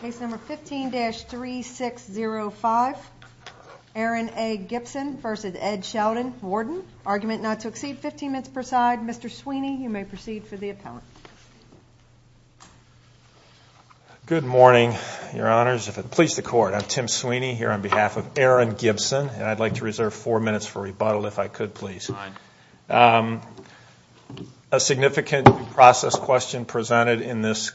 Case number 15-3605, Aaron A. Gibson versus Ed Sheldon, Warden. Argument not to exceed 15 minutes per side. Mr. Sweeney, you may proceed for the appellant. Good morning, your honors. If it pleases the court, I'm Tim Sweeney here on behalf of Aaron Gibson and I'd like to reserve four minutes for rebuttal if I could please. A significant process question presented in this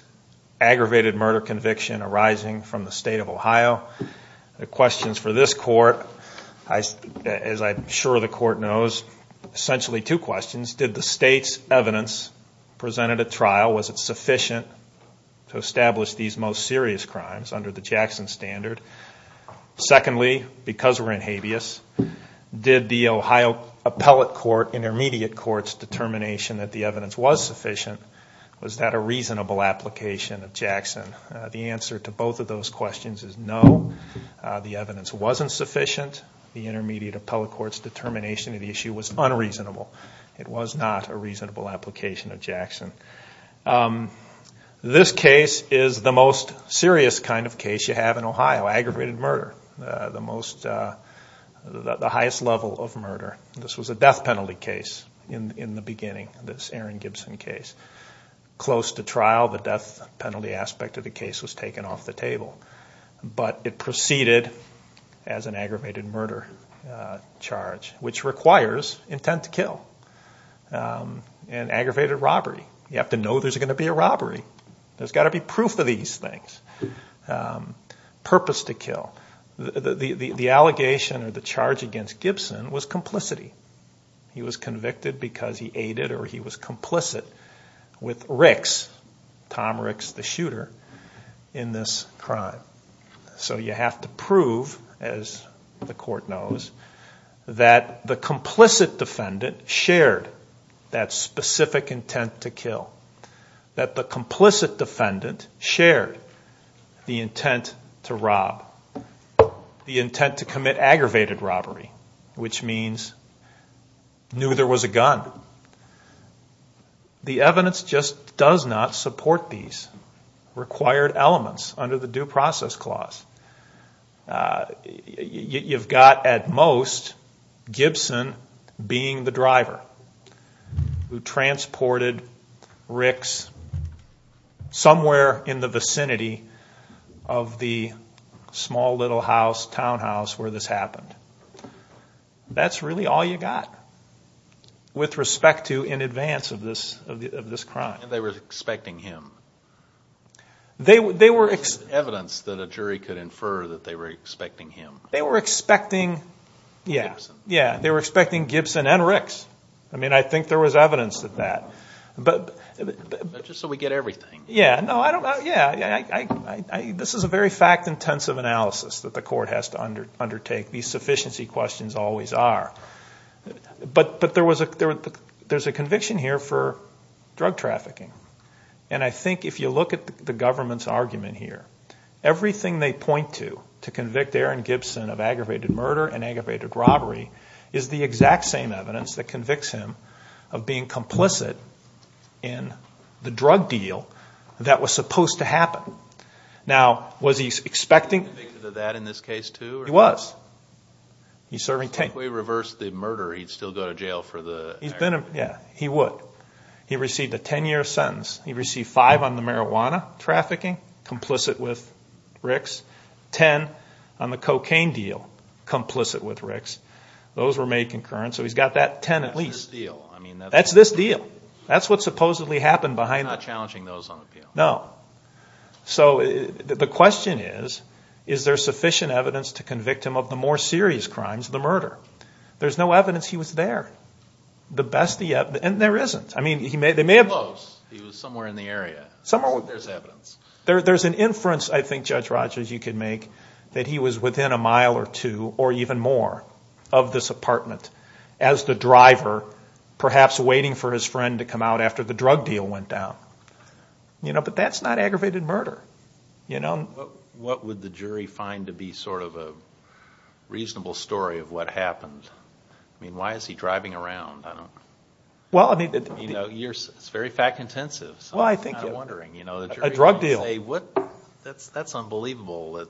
aggravated murder conviction arising from the state of Ohio. The questions for this court, as I'm sure the court knows, essentially two questions. Did the state's evidence presented at trial, was it sufficient to establish these most serious crimes under the Jackson standard? Secondly, because we're in habeas, did the Ohio appellate court, intermediate court's determination that the evidence was sufficient, was that a reasonable application of Jackson? The answer to both of those questions is no. The evidence wasn't sufficient. The intermediate appellate court's determination of the issue was unreasonable. It was not a reasonable application of Jackson. This case is the most serious kind of case you have in Ohio, aggravated murder. The highest level of murder. This was a death penalty case in the beginning, this Aaron Gibson case. Close to trial, the death penalty aspect of the case was taken off the table. But it proceeded as an aggravated murder charge, which requires intent to kill and aggravated robbery. You have to know there's going to be a robbery. There's got to be proof of these things. Purpose to kill. The allegation or the charge against Gibson was complicity. He was convicted because he aided or he was complicit with Ricks, Tom Ricks the shooter, in this crime. So you have to prove, as the court knows, that the complicit defendant shared that specific intent to kill. That the defendant shared the intent to rob. The intent to commit aggravated robbery, which means knew there was a gun. The evidence just does not support these required elements under the Due Process Clause. You've got, at most, Gibson being the driver who transported Ricks somewhere in the vicinity of the small little house, townhouse, where this happened. That's really all you got with respect to in advance of this crime. They were expecting him. There was evidence that a jury could infer that they were expecting him. They were expecting Gibson and Ricks. I think there was evidence of that. But just so we get everything. Yeah. This is a very fact-intensive analysis that the court has to undertake. These sufficiency questions always are. But there's a conviction here for drug trafficking. I think if you look at the aggravated murder and aggravated robbery, is the exact same evidence that convicts him of being complicit in the drug deal that was supposed to happen. Now, was he expecting... He was convicted of that in this case too? He was. He's serving 10... If we reverse the murder, he'd still go to jail for the... Yeah, he would. He received a 10-year sentence. He received 5 on the marijuana trafficking, complicit with Ricks. 10 on the cocaine deal, complicit with Ricks. Those were made concurrent. So he's got that 10 at least. That's this deal. That's this deal. That's what supposedly happened behind... Not challenging those on appeal. No. So the question is, is there sufficient evidence to convict him of the more serious crimes, the murder? There's no evidence he was there. The best he... And there isn't. I mean, they may have... He was close. He was somewhere in the area. Somewhere... There's evidence. There's an inference, I think, Judge Rogers, you could make, that he was within a mile or two or even more of this apartment as the driver, perhaps waiting for his friend to come out after the drug deal went down. But that's not aggravated murder. What would the jury find to be sort of a reasonable story of what happened? I mean, why is he driving around? It's very fact-intensive. Well, I think... A drug deal. A drug deal. That's unbelievable that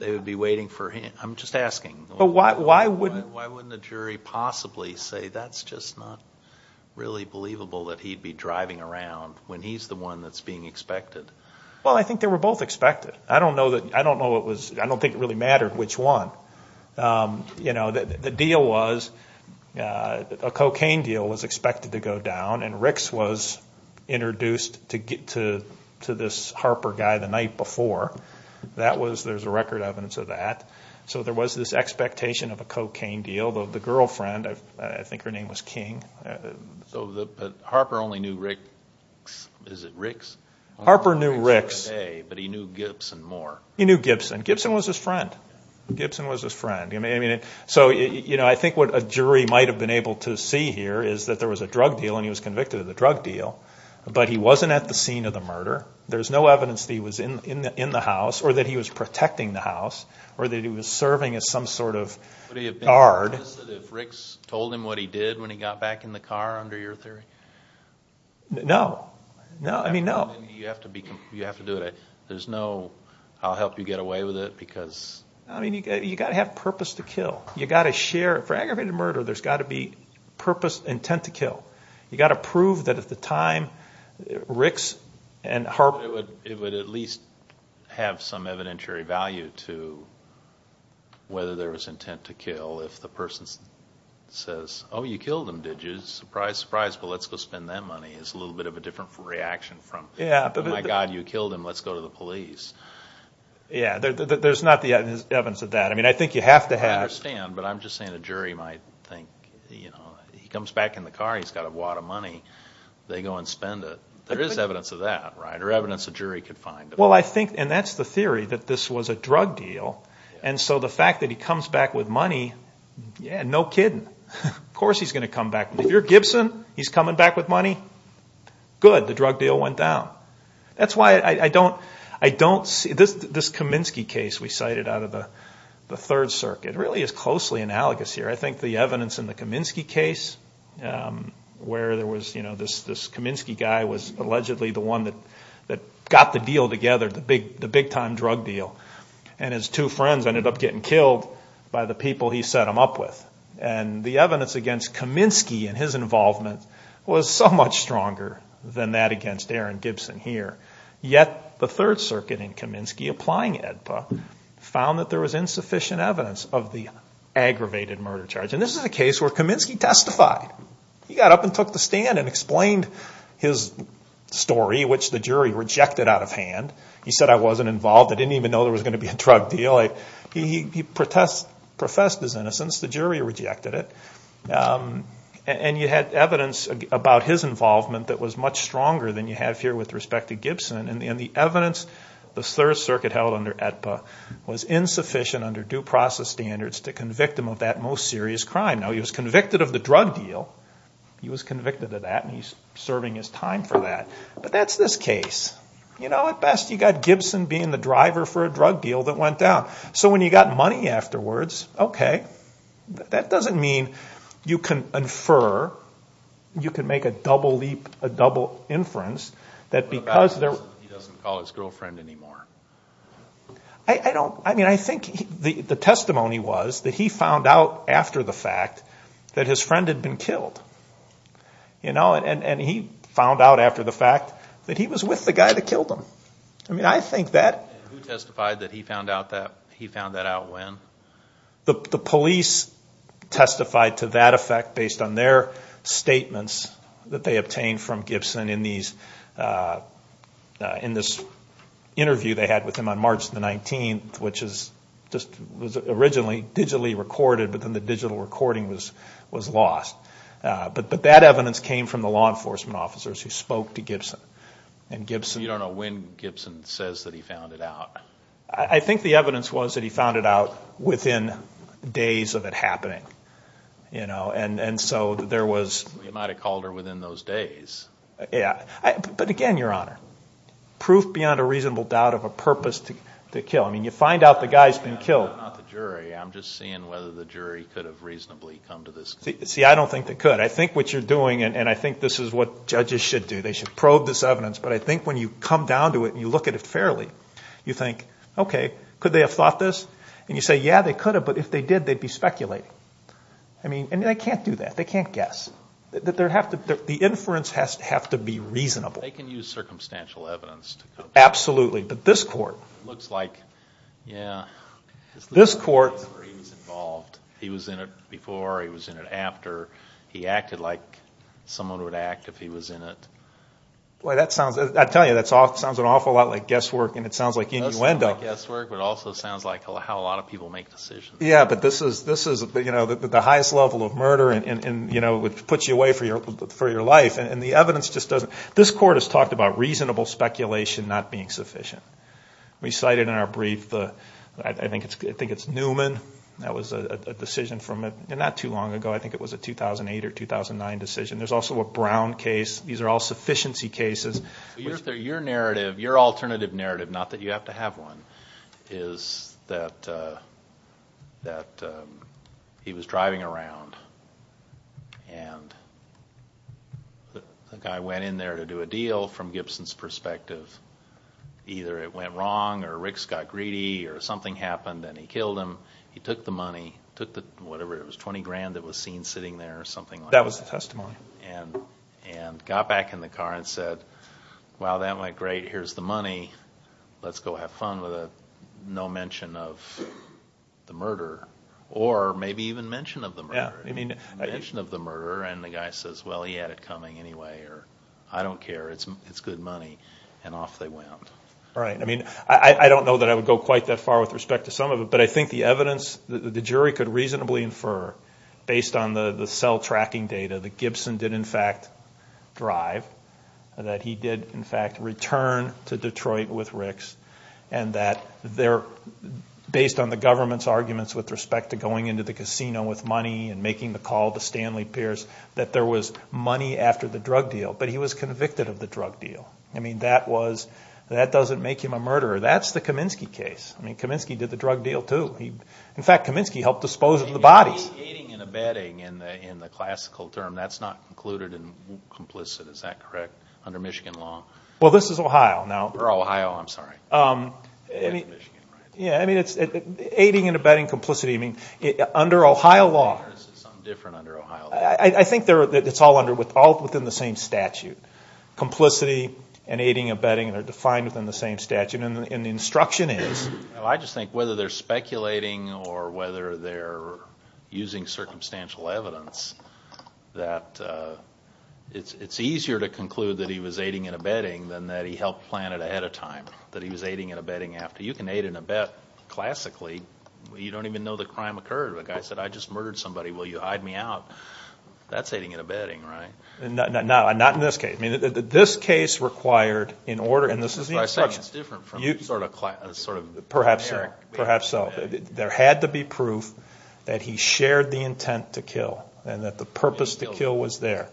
they would be waiting for him. I'm just asking. But why wouldn't... Why wouldn't the jury possibly say, that's just not really believable that he'd be driving around when he's the one that's being expected? Well, I think they were both expected. I don't know what was... I don't think it really mattered which one. The deal was, a cocaine deal was expected to go down and Ricks was introduced to this Harper guy the night before. There's a record evidence of that. So there was this expectation of a cocaine deal. The girlfriend, I think her name was King. So Harper only knew Ricks. Is it Ricks? Harper knew Ricks. But he knew Gibson more. He knew Gibson. Gibson was his friend. Gibson was his friend. So I think what a jury might have been able to see here is that there was a drug deal and he was convicted of the drug deal, but he wasn't at the scene of the murder. There's no evidence that he was in the house or that he was protecting the house or that he was serving as some sort of guard. Would he have been convinced that if Ricks told him what he did when he got back in the car under your theory? No. No. I mean, no. You have to do it. There's no, I'll help you get away with it because... I mean, you've got to have purpose to kill. You've got to share. For aggravated murder, there's got to be purpose, intent to kill. You've got to prove that at the time, Ricks and Harper... It would at least have some evidentiary value to whether there was intent to kill if the person says, oh, you killed him, did you? Surprise, surprise. Well, let's go spend that money. It's a little bit of a different reaction from, oh my God, you killed him. Let's go to the police. Yeah. There's not the evidence of that. I mean, I think you have to have... He comes back in the car, he's got a wad of money. They go and spend it. There is evidence of that, right? Or evidence a jury could find. Well, I think, and that's the theory, that this was a drug deal. And so the fact that he comes back with money, yeah, no kidding. Of course he's going to come back. If you're Gibson, he's coming back with money. Good. The drug deal went down. That's why I don't see... This Kaminsky case we cited out of the Third Circuit really is closely analogous here. I think the evidence in the Kaminsky case, where there was this Kaminsky guy was allegedly the one that got the deal together, the big time drug deal. And his two friends ended up getting killed by the people he set them up with. And the evidence against Kaminsky and his involvement was so much stronger than that against Aaron Gibson here. Yet the Third Circuit in Kaminsky, applying AEDPA, found that there was insufficient evidence of the aggravated murder charge. And this is a case where Kaminsky testified. He got up and took the stand and explained his story, which the jury rejected out of hand. He said, I wasn't involved. I didn't even know there was going to be a drug deal. He professed his innocence. The jury rejected it. And you had evidence about his involvement that was much stronger than you have here with respect to Gibson. And the evidence the Third Circuit held under due process standards to convict him of that most serious crime. Now, he was convicted of the drug deal. He was convicted of that, and he's serving his time for that. But that's this case. At best, you've got Gibson being the driver for a drug deal that went down. So when you've got money afterwards, okay. That doesn't mean you can infer, you can make a double leap, a double inference, that because there... He doesn't call his girlfriend anymore. I don't. I mean, I think the testimony was that he found out after the fact that his friend had been killed. And he found out after the fact that he was with the guy that killed him. I mean, I think that... And who testified that he found that out? He found that out when? The police testified to that effect based on their statements that they obtained from in this interview they had with him on March the 19th, which is just was originally digitally recorded, but then the digital recording was lost. But that evidence came from the law enforcement officers who spoke to Gibson. And Gibson... You don't know when Gibson says that he found it out. I think the evidence was that he found it out within days of it happening. And so there was... You might have called her within those days. Yeah. But again, Your Honor, proof beyond a reasonable doubt of a purpose to kill. I mean, you find out the guy's been killed. I'm not the jury. I'm just seeing whether the jury could have reasonably come to this... See, I don't think they could. I think what you're doing, and I think this is what judges should do. They should probe this evidence. But I think when you come down to it and you look at it fairly, you think, okay, could they have thought this? And you say, yeah, they could have, but if they did, they'd be speculating. I mean, and they can't do that. They can't guess. The inference has to be reasonable. They can use circumstantial evidence to come to this. Absolutely. But this court... It looks like, yeah, his little case where he was involved, he was in it before, he was in it after. He acted like someone would act if he was in it. Boy, that sounds... I tell you, that sounds an awful lot like guesswork, and it sounds like innuendo. It sounds like guesswork, but it also sounds like how a lot of people make decisions. Yeah, but this is, you know, the highest level of murder, and, you know, it puts you away for your life. And the evidence just doesn't... This court has talked about reasonable speculation not being sufficient. We cited in our brief, I think it's Newman. That was a decision from, not too long ago, I think it was a 2008 or 2009 decision. There's also a Brown case. These are all sufficiency cases. Your narrative, your alternative narrative, not that you have to have one, is that he was driving around, and the guy went in there to do a deal from Gibson's perspective. Either it went wrong or Ricks got greedy or something happened and he killed him. He took the money, took the, whatever it was, 20 grand that was seen sitting there or something like that. That was the testimony. And got back in the car and said, wow, that went great. Here's the money. Let's go have fun with no mention of the murder, or maybe even mention of the murder. I mean, mention of the murder, and the guy says, well, he had it coming anyway, or I don't care. It's good money. And off they went. Right. I mean, I don't know that I would go quite that far with respect to some of it, but I think the evidence, the jury could reasonably infer based on the cell tracking data that Gibson did, in fact, drive, that he did, in fact, return to Detroit with Ricks, and that they're, based on the government's arguments with respect to going into the casino with money and making the call to Stanley Pierce, that there was money after the drug deal. But he was convicted of the drug deal. I mean, that was, that doesn't make him a murderer. That's the Kaminsky case. I mean, Kaminsky did the drug deal too. In fact, Kaminsky helped dispose of the bodies. Aiding and abetting in the classical term, that's not included in complicit, is that correct, under Michigan law? Well, this is Ohio now. Oh, Ohio, I'm sorry. Yeah, I mean, it's aiding and abetting complicity. I mean, under Ohio law. Is it something different under Ohio law? I think it's all under, all within the same statute. Complicity and aiding and abetting are defined within the same statute, and the instruction is. I just think whether they're speculating or whether they're using circumstantial evidence, that it's easier to conclude that he was aiding and abetting than that he helped plan it ahead of time, that he was aiding and abetting after. You can aid and abet classically. You don't even know the crime occurred. If a guy said, I just murdered somebody, will you hide me out? That's aiding and abetting, right? Not in this case. I mean, this case required, in order, and this is the instruction. It's different from sort of generic. Perhaps so. There had to be proof that he shared the intent to kill, and that the purpose to kill was there.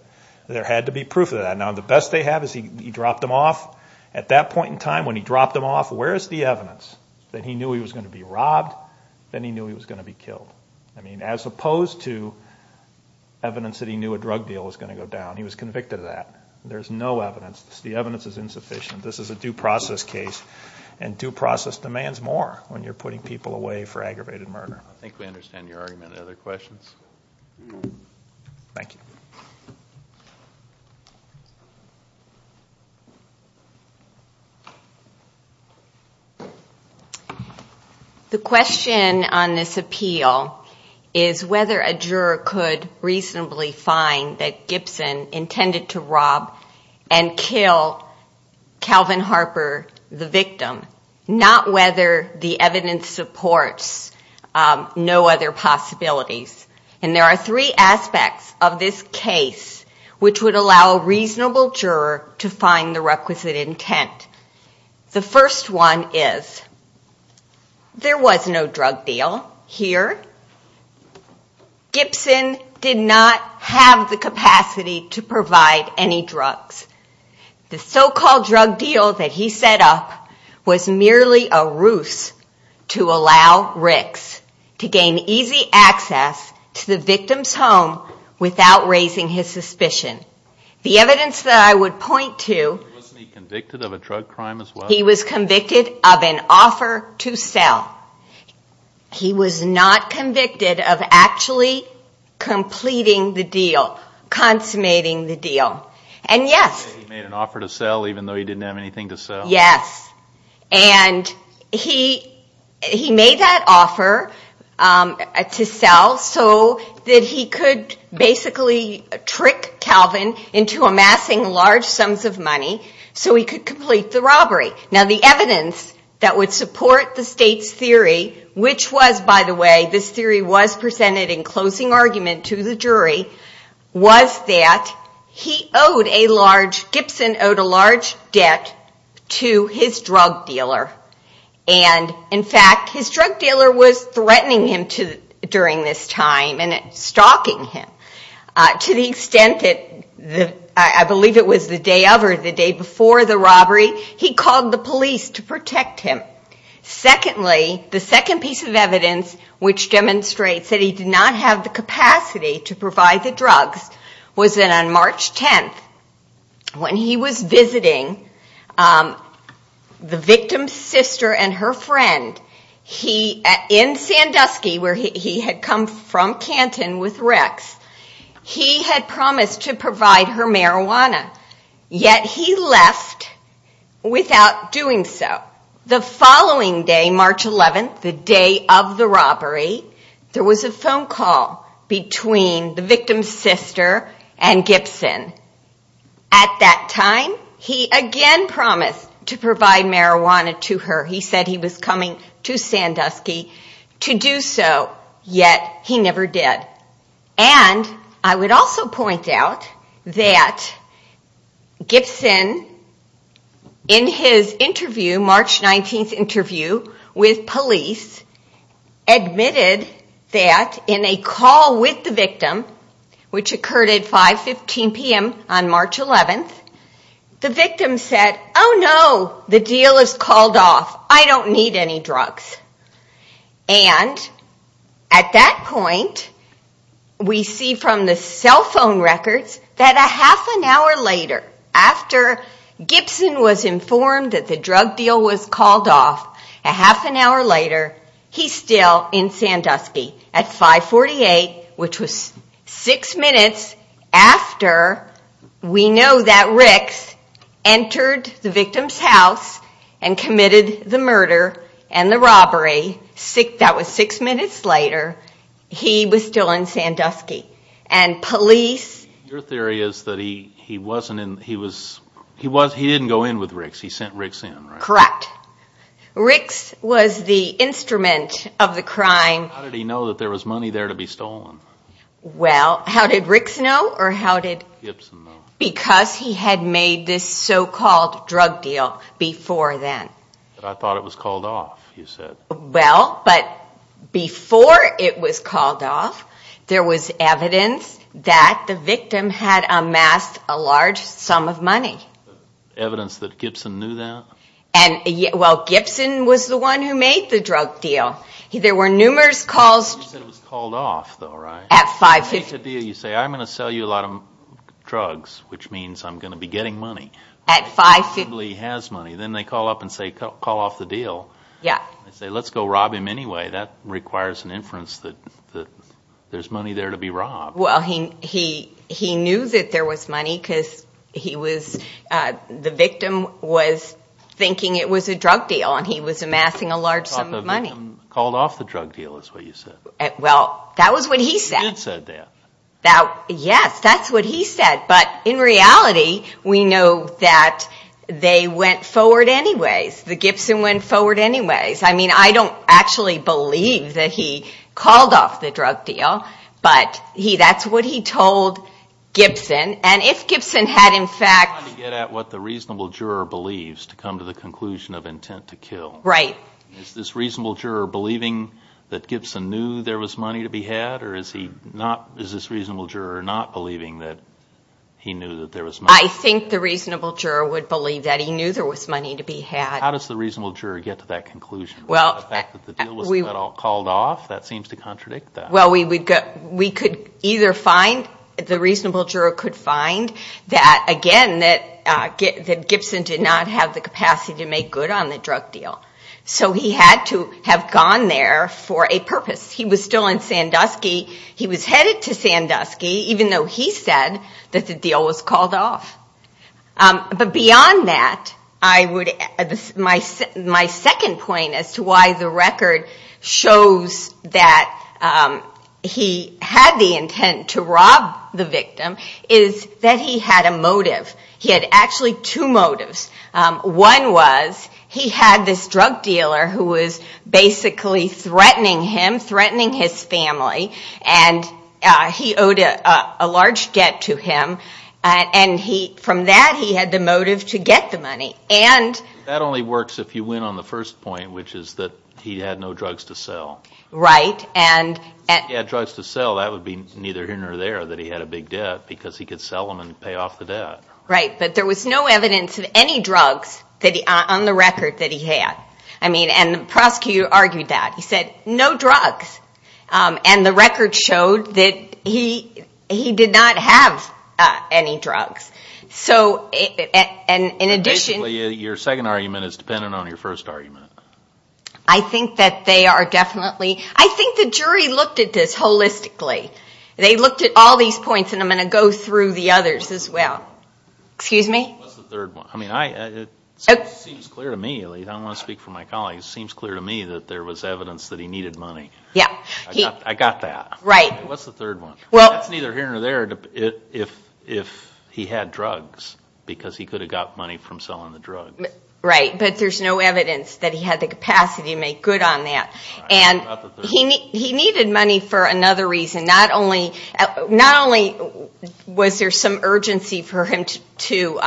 There had to be proof of that. Now, the best they have is he dropped them off. At that point in time, when he dropped them off, where is the evidence that he knew he was going to be robbed, that he knew he was going to be killed? I mean, as opposed to evidence that he knew a drug deal was going to go down. He was convicted of that. There's no evidence. The evidence is insufficient. This is a due process case, and due process demands more when you're putting people away for aggravated murder. I think we understand your argument. Other questions? The question on this appeal is whether a juror could reasonably find that Gibson intended to rob and kill Calvin Harper, the victim, not whether the evidence supports no other possibilities. And there are three aspects of this case which would allow a reasonable juror to find the requisite intent. The first one is there was no drug deal here. Gibson did not have the capacity to provide any drugs. The so-called drug deal that he set up was merely a ruse to allow Ricks to gain easy access to the victim's home without raising his suspicion. The evidence that I would point to... Wasn't he convicted of a drug crime as well? He was convicted of an offer to sell. He was not convicted of actually committing a crime. Completing the deal. Consummating the deal. And yes. He made an offer to sell even though he didn't have anything to sell. Yes. And he made that offer to sell so that he could basically trick Calvin into amassing large sums of money so he could complete the robbery. Now the evidence that would support the state's theory, which was, by the way, this theory was presented in closing argument to the jury, was that he owed a large... Gibson owed a large debt to his drug dealer. And in fact, his drug dealer was threatening him during this time and stalking him. To the extent that I believe it was the day of or the day before the robbery, he called the police to protect him. Secondly, the second piece of evidence which demonstrates that he did not have the capacity to provide the drugs was that on March 10th, when he was visiting the victim's sister and her friend in Sandusky, where he had come from Canton with Rex, he had promised to provide her marijuana. Yet he left without doing so. The following day, March 11th, the day of the robbery, there was a phone call between the victim's sister and Gibson. At that time, he again promised to provide marijuana to her. He said he was coming to Sandusky to do so, yet he never did. And I would also point out that Gibson, in his interview, March 11th, had said that he And in his March 19th interview with police, he admitted that in a call with the victim, which occurred at 5.15 p.m. on March 11th, the victim said, oh no, the deal is called off, I don't need any drugs. And at that point, we see from the cell phone records, that a half an hour later, after Gibson was informed that the drug deal was called off, a half an hour later, he's still in Sandusky at 5.48, which was six minutes after we know that Rex entered the victim's house and committed the murder and the robbery. That was six minutes later, he was still in Sandusky. Your theory is that he didn't go in with Rex, he sent Rex in, right? Correct. Rex was the instrument of the crime. How did he know that there was money there to be stolen? How did Rex know? Because he had made this so-called drug deal before then. I thought it was called off, you said. Well, but before it was called off, there was evidence that the victim had amassed a large sum of money. Evidence that Gibson knew that? And, well, Gibson was the one who made the drug deal. There were numerous calls. You said it was called off, though, right? At 5.50. You say, I'm going to sell you a lot of drugs, which means I'm going to be getting money. At 5.50. Then they call up and say, call off the deal. They say, let's go rob him anyway. That requires an inference that there's money there to be robbed. Well, he knew that there was money because the victim was thinking it was a drug deal and he was amassing a large sum of money. Called off the drug deal, is what you said. Well, that was what he said. You did say that. Yes, that's what he said, but in reality, we know that they went forward anyways. That Gibson went forward anyways. I mean, I don't actually believe that he called off the drug deal, but that's what he told Gibson, and if Gibson had in fact... I'm trying to get at what the reasonable juror believes to come to the conclusion of intent to kill. Right. Is this reasonable juror believing that Gibson knew there was money to be had, or is this reasonable juror not believing that he knew that there was money? I think the reasonable juror would believe that he knew there was money to be had. How does the reasonable juror get to that conclusion? The fact that the deal wasn't at all called off, that seems to contradict that. Well, we could either find, the reasonable juror could find that, again, that Gibson did not have the capacity to make good on the drug deal. So he had to have gone there for a purpose. He was still in Sandusky. He was headed to Sandusky, even though he said that the deal was called off. But beyond that, my second point as to why the record shows that he had the intent to rob the victim is that he had a motive. He had actually two motives. One was he had this drug dealer who was basically threatening him, threatening his family, and he owed a large debt to him. From that, he had the motive to get the money. That only works if you win on the first point, which is that he had no drugs to sell. Right. If he had drugs to sell, that would be neither here nor there, that he had a big debt, because he could sell them and pay off the debt. Right. But there was no evidence of any drugs on the record that he had. I mean, and the prosecutor argued that. He said, no drugs. And the record showed that he did not have any drugs. So, in addition... Basically, your second argument is dependent on your first argument. I think that they are definitely... I think the jury looked at this holistically. They looked at all these points, and I'm going to go through the others as well. Excuse me? What's the third one? I mean, it seems clear to me, and I don't want to speak for my colleagues, it seems clear to me that there was evidence that he needed money. Yeah. I got that. Right. What's the third one? Well... That's neither here nor there, if he had drugs, because he could have got money from selling the drugs. Right. But there's no evidence that he had the capacity to make good on that. And he needed money for another reason. Not only was there some urgency for him to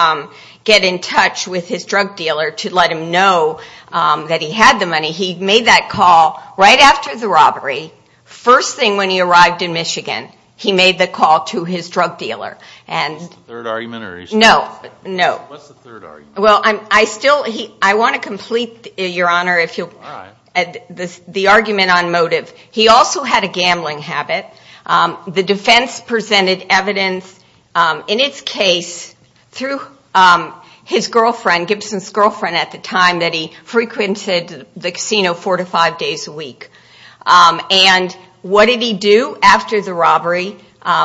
get in touch with his drug dealer to let him know that he had the money, he made that call right after the robbery. First thing, when he arrived in Michigan, he made the call to his drug dealer. Is that the third argument, or are you sure? No. No. What's the third argument? Well, I still... I want to complete, Your Honor, the argument on motive. He also had a gambling habit. The defense presented him evidence, in its case, through his girlfriend, Gibson's girlfriend at the time, that he frequented the casino four to five days a week. And what did he do after the robbery?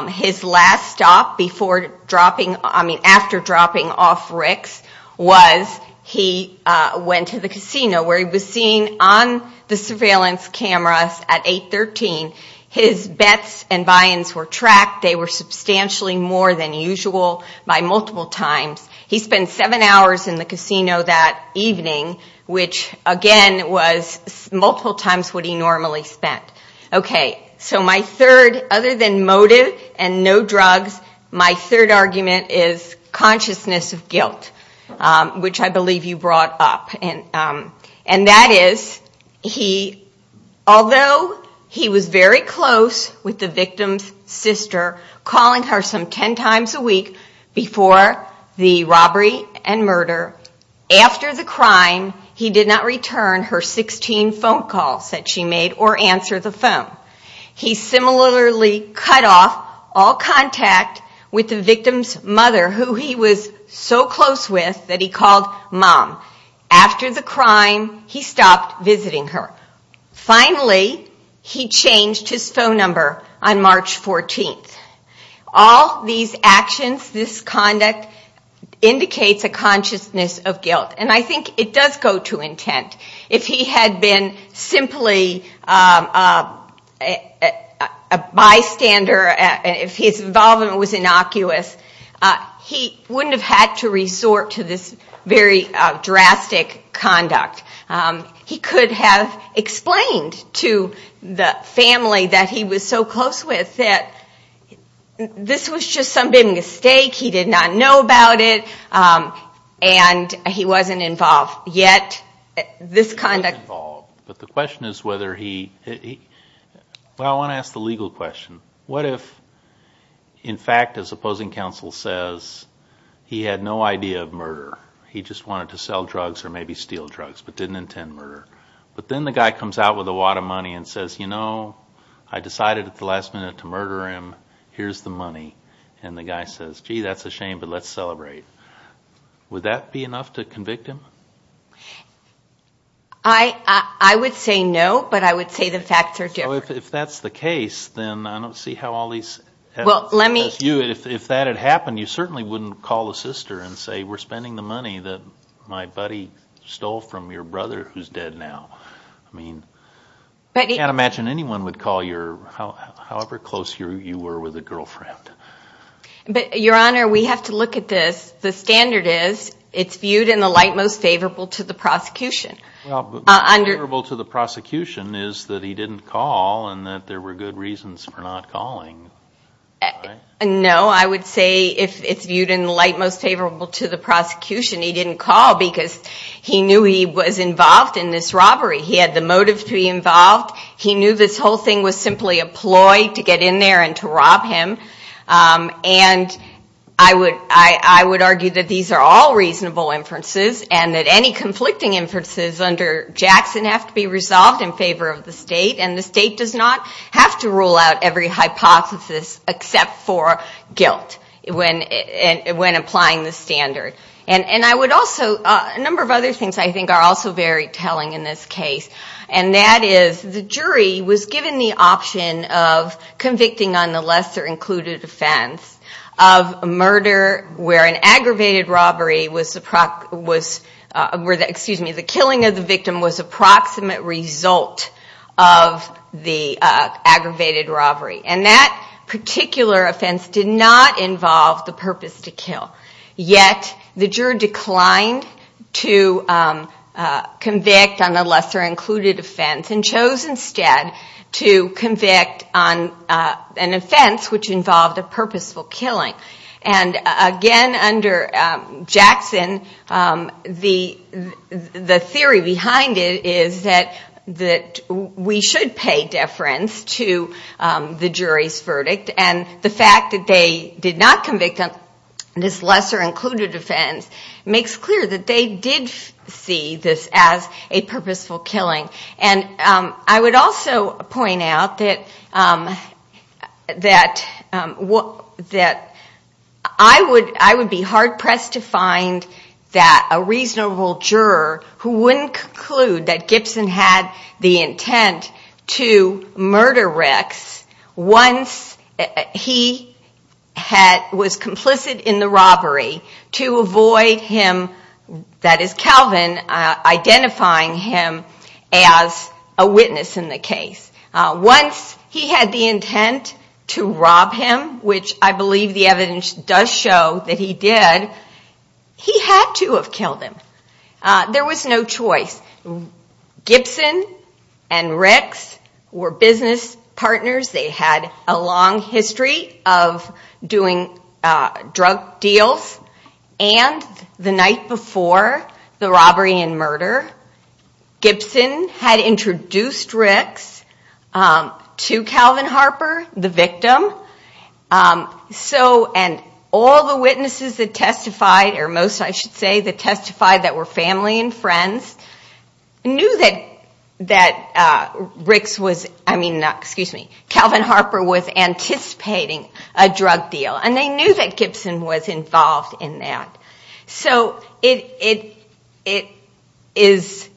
His last stop before dropping... I mean, after dropping off Rick's was he went to the casino, where he was seen on the surveillance cameras at 813. His bets and buy-ins were tracked. They were substantially more than usual by multiple times. He spent seven hours in the casino that evening, which, again, was multiple times what he normally spent. Okay. So my third, other than motive and no drugs, my third argument is consciousness of guilt, which I believe you brought up. And that is, although he was very close with the victim's sister, calling her some ten times a week before the robbery and murder, after the crime, he did not return her 16 phone calls that she made or answer the phone. He similarly cut off all contact with the victim's mother, who he was so close with that he called Mom. After the crime, he stopped visiting her. Finally, he changed his phone number on March 14th. All these actions, this conduct, indicates a consciousness of guilt. And I think it does go to intent. If he had been simply a bystander, if his involvement was innocuous, he wouldn't have had to resort to this very drastic conduct. He could have explained to the family that he was so close with that this was just some big mistake, he did not know about it, and he wasn't involved. Yet, this conduct... He wasn't involved. But the question is whether he... Well, I want to ask the legal question. What if, in fact, as opposing counsel says, he had no idea of murder? He just wanted to know. If a guy comes out with a wad of money and says, you know, I decided at the last minute to murder him, here's the money. And the guy says, gee, that's a shame, but let's celebrate. Would that be enough to convict him? I would say no, but I would say the facts are different. If that's the case, then I don't see how all these... If that had happened, you certainly wouldn't call a sister and say, we're spending the money that my buddy stole from your brother who's dead now. I mean, I can't imagine anyone would call your, however close you were with a girlfriend. But, Your Honor, we have to look at this. The standard is it's viewed in the light most favorable to the prosecution. Well, but most favorable to the prosecution is that he didn't call and that there were good reasons for not calling, right? No, I would say if it's viewed in the light most favorable to the prosecution, he didn't call because he knew he was involved in this robbery. He had the motive to be involved. He knew this whole thing was simply a ploy to get in there and to rob him. And I would argue that these are all reasonable inferences and that any conflicting inferences under Jackson have to be resolved in favor of the state. And the state does not have to rule out every hypothesis except for guilt when applying the standard. And I would also, a number of other things I think are also very telling in this case, and that is the jury was given the option of convicting on the lesser included offense of murder where an aggravated robbery was, excuse me, the killing of the victim was approximate result of the aggravated robbery. And that particular offense did not involve the purpose to kill. Yet, the juror declined to convict on the lesser included offense and chose instead to convict on an offense which involved a purposeful killing. And again, under Jackson, the theory behind it is that we should pay deference to the jury's verdict. And the fact that they did not convict on this lesser included offense makes clear that they did see this as a purposeful killing. And I would also point out that I would be hard pressed to find a reasonable juror who wouldn't conclude that Gibson had the intent to murder Ricks once he was complicit in the robbery to avoid him, that is Calvin, identifying him as a witness in the case. Once he had the intent to rob him, which I believe the evidence does show that he did, he had to have killed him. There was no choice. Gibson and Ricks were business partners. They had a long history of doing drug deals. And the night before the robbery and murder, Gibson had introduced Ricks to Calvin Harper, the victim. And all the witnesses that testified, or most I should say that testified that were family and friends, knew that Calvin Harper was anticipating a drug deal. And they knew that Gibson was involved in that. So it is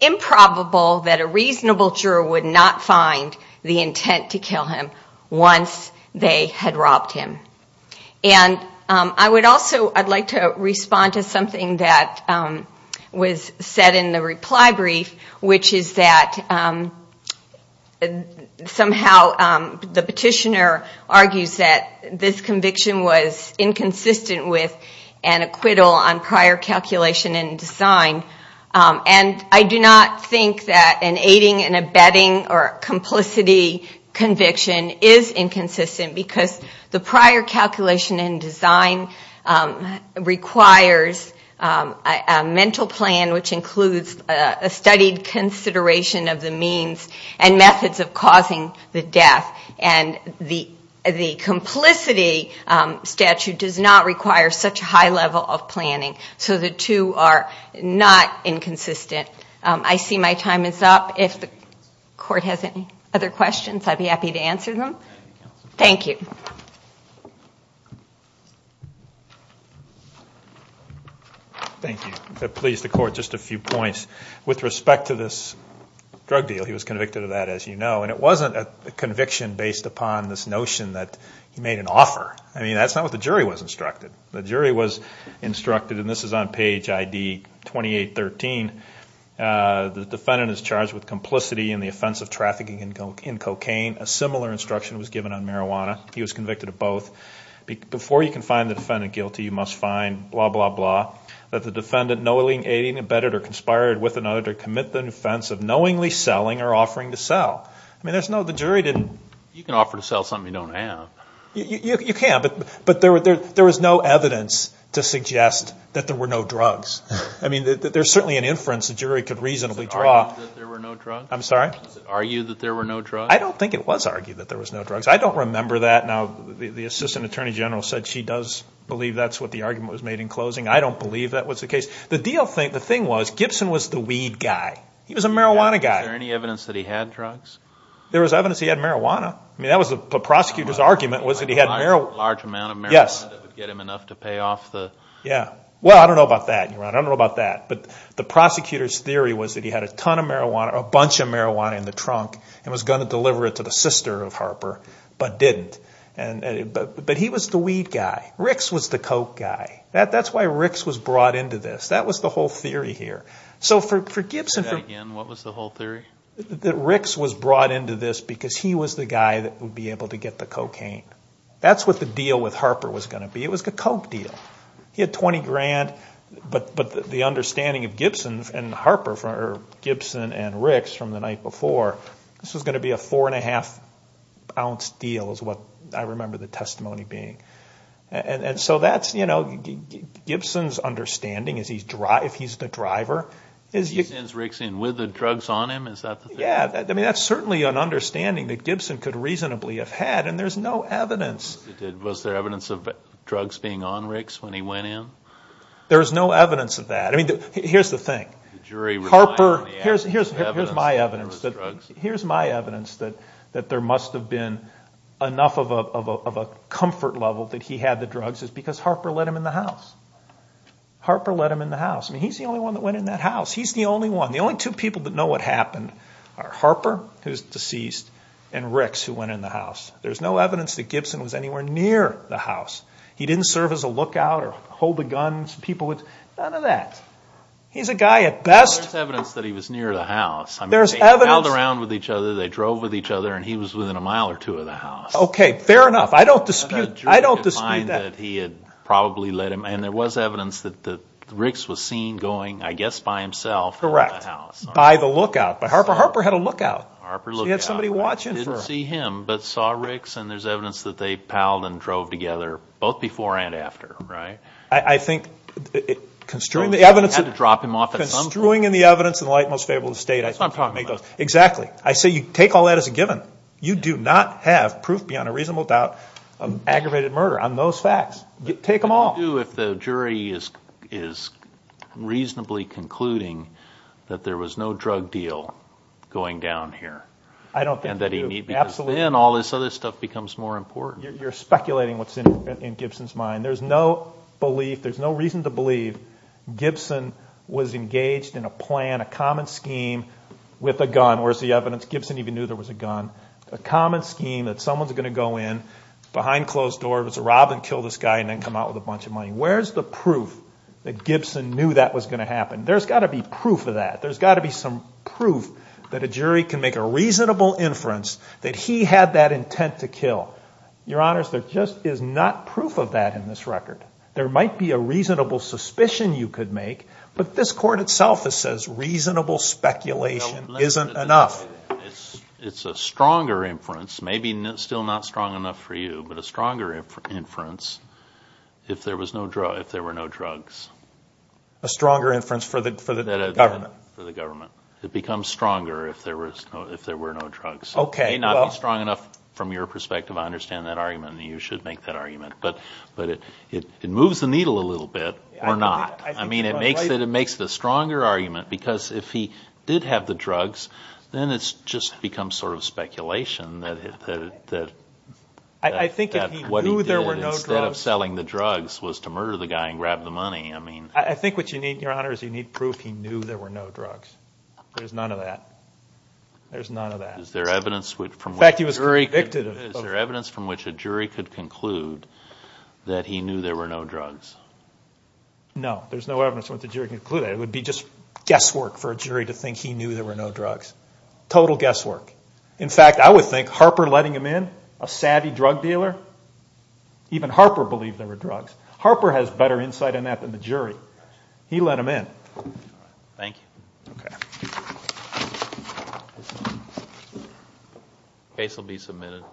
improbable that a reasonable juror would not find the intent to kill him once they had robbed him. And I would also like to respond to something that was said in the reply brief, which is that somehow the petitioner argues that this conviction was inconsistent with an acquittal on prior calculation and design. And I do not think that an aiding and abetting or complicity conviction is inconsistent because the prior calculation and design requires a mental plan, which includes a studied consideration of the means and methods of causing the death. And the complicity statute does not require such a high level of planning. So the two are not inconsistent. I see my time is up. If the court has any other questions, I would be happy to answer them. Thank you. Thank you. If it pleases the court, just a few points. With respect to this drug deal, he was convicted of that, as you know. And it wasn't a conviction based upon this notion that he made an offer. I mean, that's not what the jury was instructed. The jury was instructed in I.D. 2813, the defendant is charged with complicity in the offense of trafficking in cocaine. A similar instruction was given on marijuana. He was convicted of both. Before you can find the defendant guilty, you must find blah, blah, blah, that the defendant knowingly aiding, abetting, or conspiring with another to commit the offense of knowingly selling or offering to sell. I mean, there's no, the jury didn't... You can offer to sell something you don't have. You can, but there was no evidence to suggest that there were no drugs. I mean, there's certainly an inference the jury could reasonably draw. Does it argue that there were no drugs? I'm sorry? Does it argue that there were no drugs? I don't think it was argued that there was no drugs. I don't remember that. Now, the Assistant Attorney General said she does believe that's what the argument was made in closing. I don't believe that was the case. The deal, the thing was, Gibson was the weed guy. He was a marijuana guy. Is there any evidence that he had drugs? There was evidence he had marijuana. I mean, that was the prosecutor's argument, was that he had marijuana. A large amount of marijuana that would get him enough to pay off the... Yeah. Well, I don't know about that, Your Honor. I don't know about that. But the prosecutor's theory was that he had a ton of marijuana, or a bunch of marijuana in the trunk, and was going to deliver it to the sister of Harper, but didn't. But he was the weed guy. Ricks was the coke guy. That's why Ricks was brought into this. That was the whole theory here. So for Gibson... Say that again. What was the whole theory? That Ricks was brought into this because he was the guy that would be able to get the cocaine. That's what the deal with Harper was going to be. It was the coke deal. He had 20 grand, but the understanding of Gibson and Harper, or Gibson and Ricks from the night before, this was going to be a four and a half ounce deal, is what I remember the testimony being. And so that's, you know, Gibson's understanding, if he's the driver... He sends Ricks in with the drugs on him? Is that the thing? Yeah. I mean, that's certainly an understanding that Gibson could reasonably have had, and there's no evidence... Was there evidence of drugs being on Ricks when he went in? There's no evidence of that. I mean, here's the thing. The jury relied on the evidence. Here's my evidence that there must have been enough of a comfort level that he had the drugs, is because Harper let him in the house. Harper let him in the house. I mean, he's the only one that went in that house. He's the only one. The only two people that know what happened are Harper, who's deceased, and Ricks, who went in the house. There's no evidence that Gibson was anywhere near the house. He didn't serve as a lookout or hold the guns. People would... None of that. He's a guy at best... There's evidence that he was near the house. There's evidence... They held around with each other. They drove with each other, and he was within a mile or two of the house. Okay. Fair enough. I don't dispute that. I don't dispute that. I don't dispute that he had probably let him... And there was evidence that Ricks was seen going, I guess, by himself... Correct. ...in the house. By the lookout. But Harper had a lookout. Harper looked out. So he had somebody watching for him. He didn't see him, but saw Ricks, and there's evidence that they palled and drove together, both before and after, right? I think, construing the evidence... You had to drop him off at some point. Construing in the evidence in the light most favorable to the State, I... That's not what I'm talking about. Exactly. I say you take all that as a given. You do not have proof beyond a reasonable doubt of aggravated murder on those facts. Take them all. But what do you do if the jury is reasonably concluding that there was no drug deal going down here? I don't think you do. Absolutely. And then all this other stuff becomes more important. You're speculating what's in Gibson's mind. There's no belief, there's no reason to believe Gibson was engaged in a plan, a common scheme, with a gun. Where's the evidence? Gibson even knew there was a gun. A common scheme that someone's going to go in, behind closed doors, rob and kill this guy, and then come out with a bunch of money. Where's the proof that Gibson knew that was going to happen? There's got to be proof of that. There's got to be some proof that a jury can make a reasonable inference that he had that intent to kill. Your Honors, there just is not proof of that in this record. There might be a reasonable suspicion you could make, but this Court itself says reasonable speculation isn't enough. It's a stronger inference, maybe still not strong enough for you, but a stronger inference if there were no drugs. A stronger inference for the government? For the government. It becomes stronger if there were no drugs. It may not be strong enough from your perspective. I understand that argument, and you should make that argument. But it moves the needle a little bit, or not. I mean, it makes it a stronger argument, because if he did have the drugs, then it's just become sort of speculation that what he did instead of selling the drugs was to murder the guy and grab the money. I think what you need, Your Honors, is you need proof he knew there were no drugs. There's none of that. There's none of that. Is there evidence from which a jury could conclude that he knew there were no drugs? No, there's no evidence from which a jury could conclude that. It would be just guesswork for a jury to think he knew there were no drugs. Total guesswork. In fact, I would think Harper letting him in, a savvy drug dealer, even Harper believed there were drugs. Harper has better insight on that than the jury. He let him in. Thank you. Case will be submitted.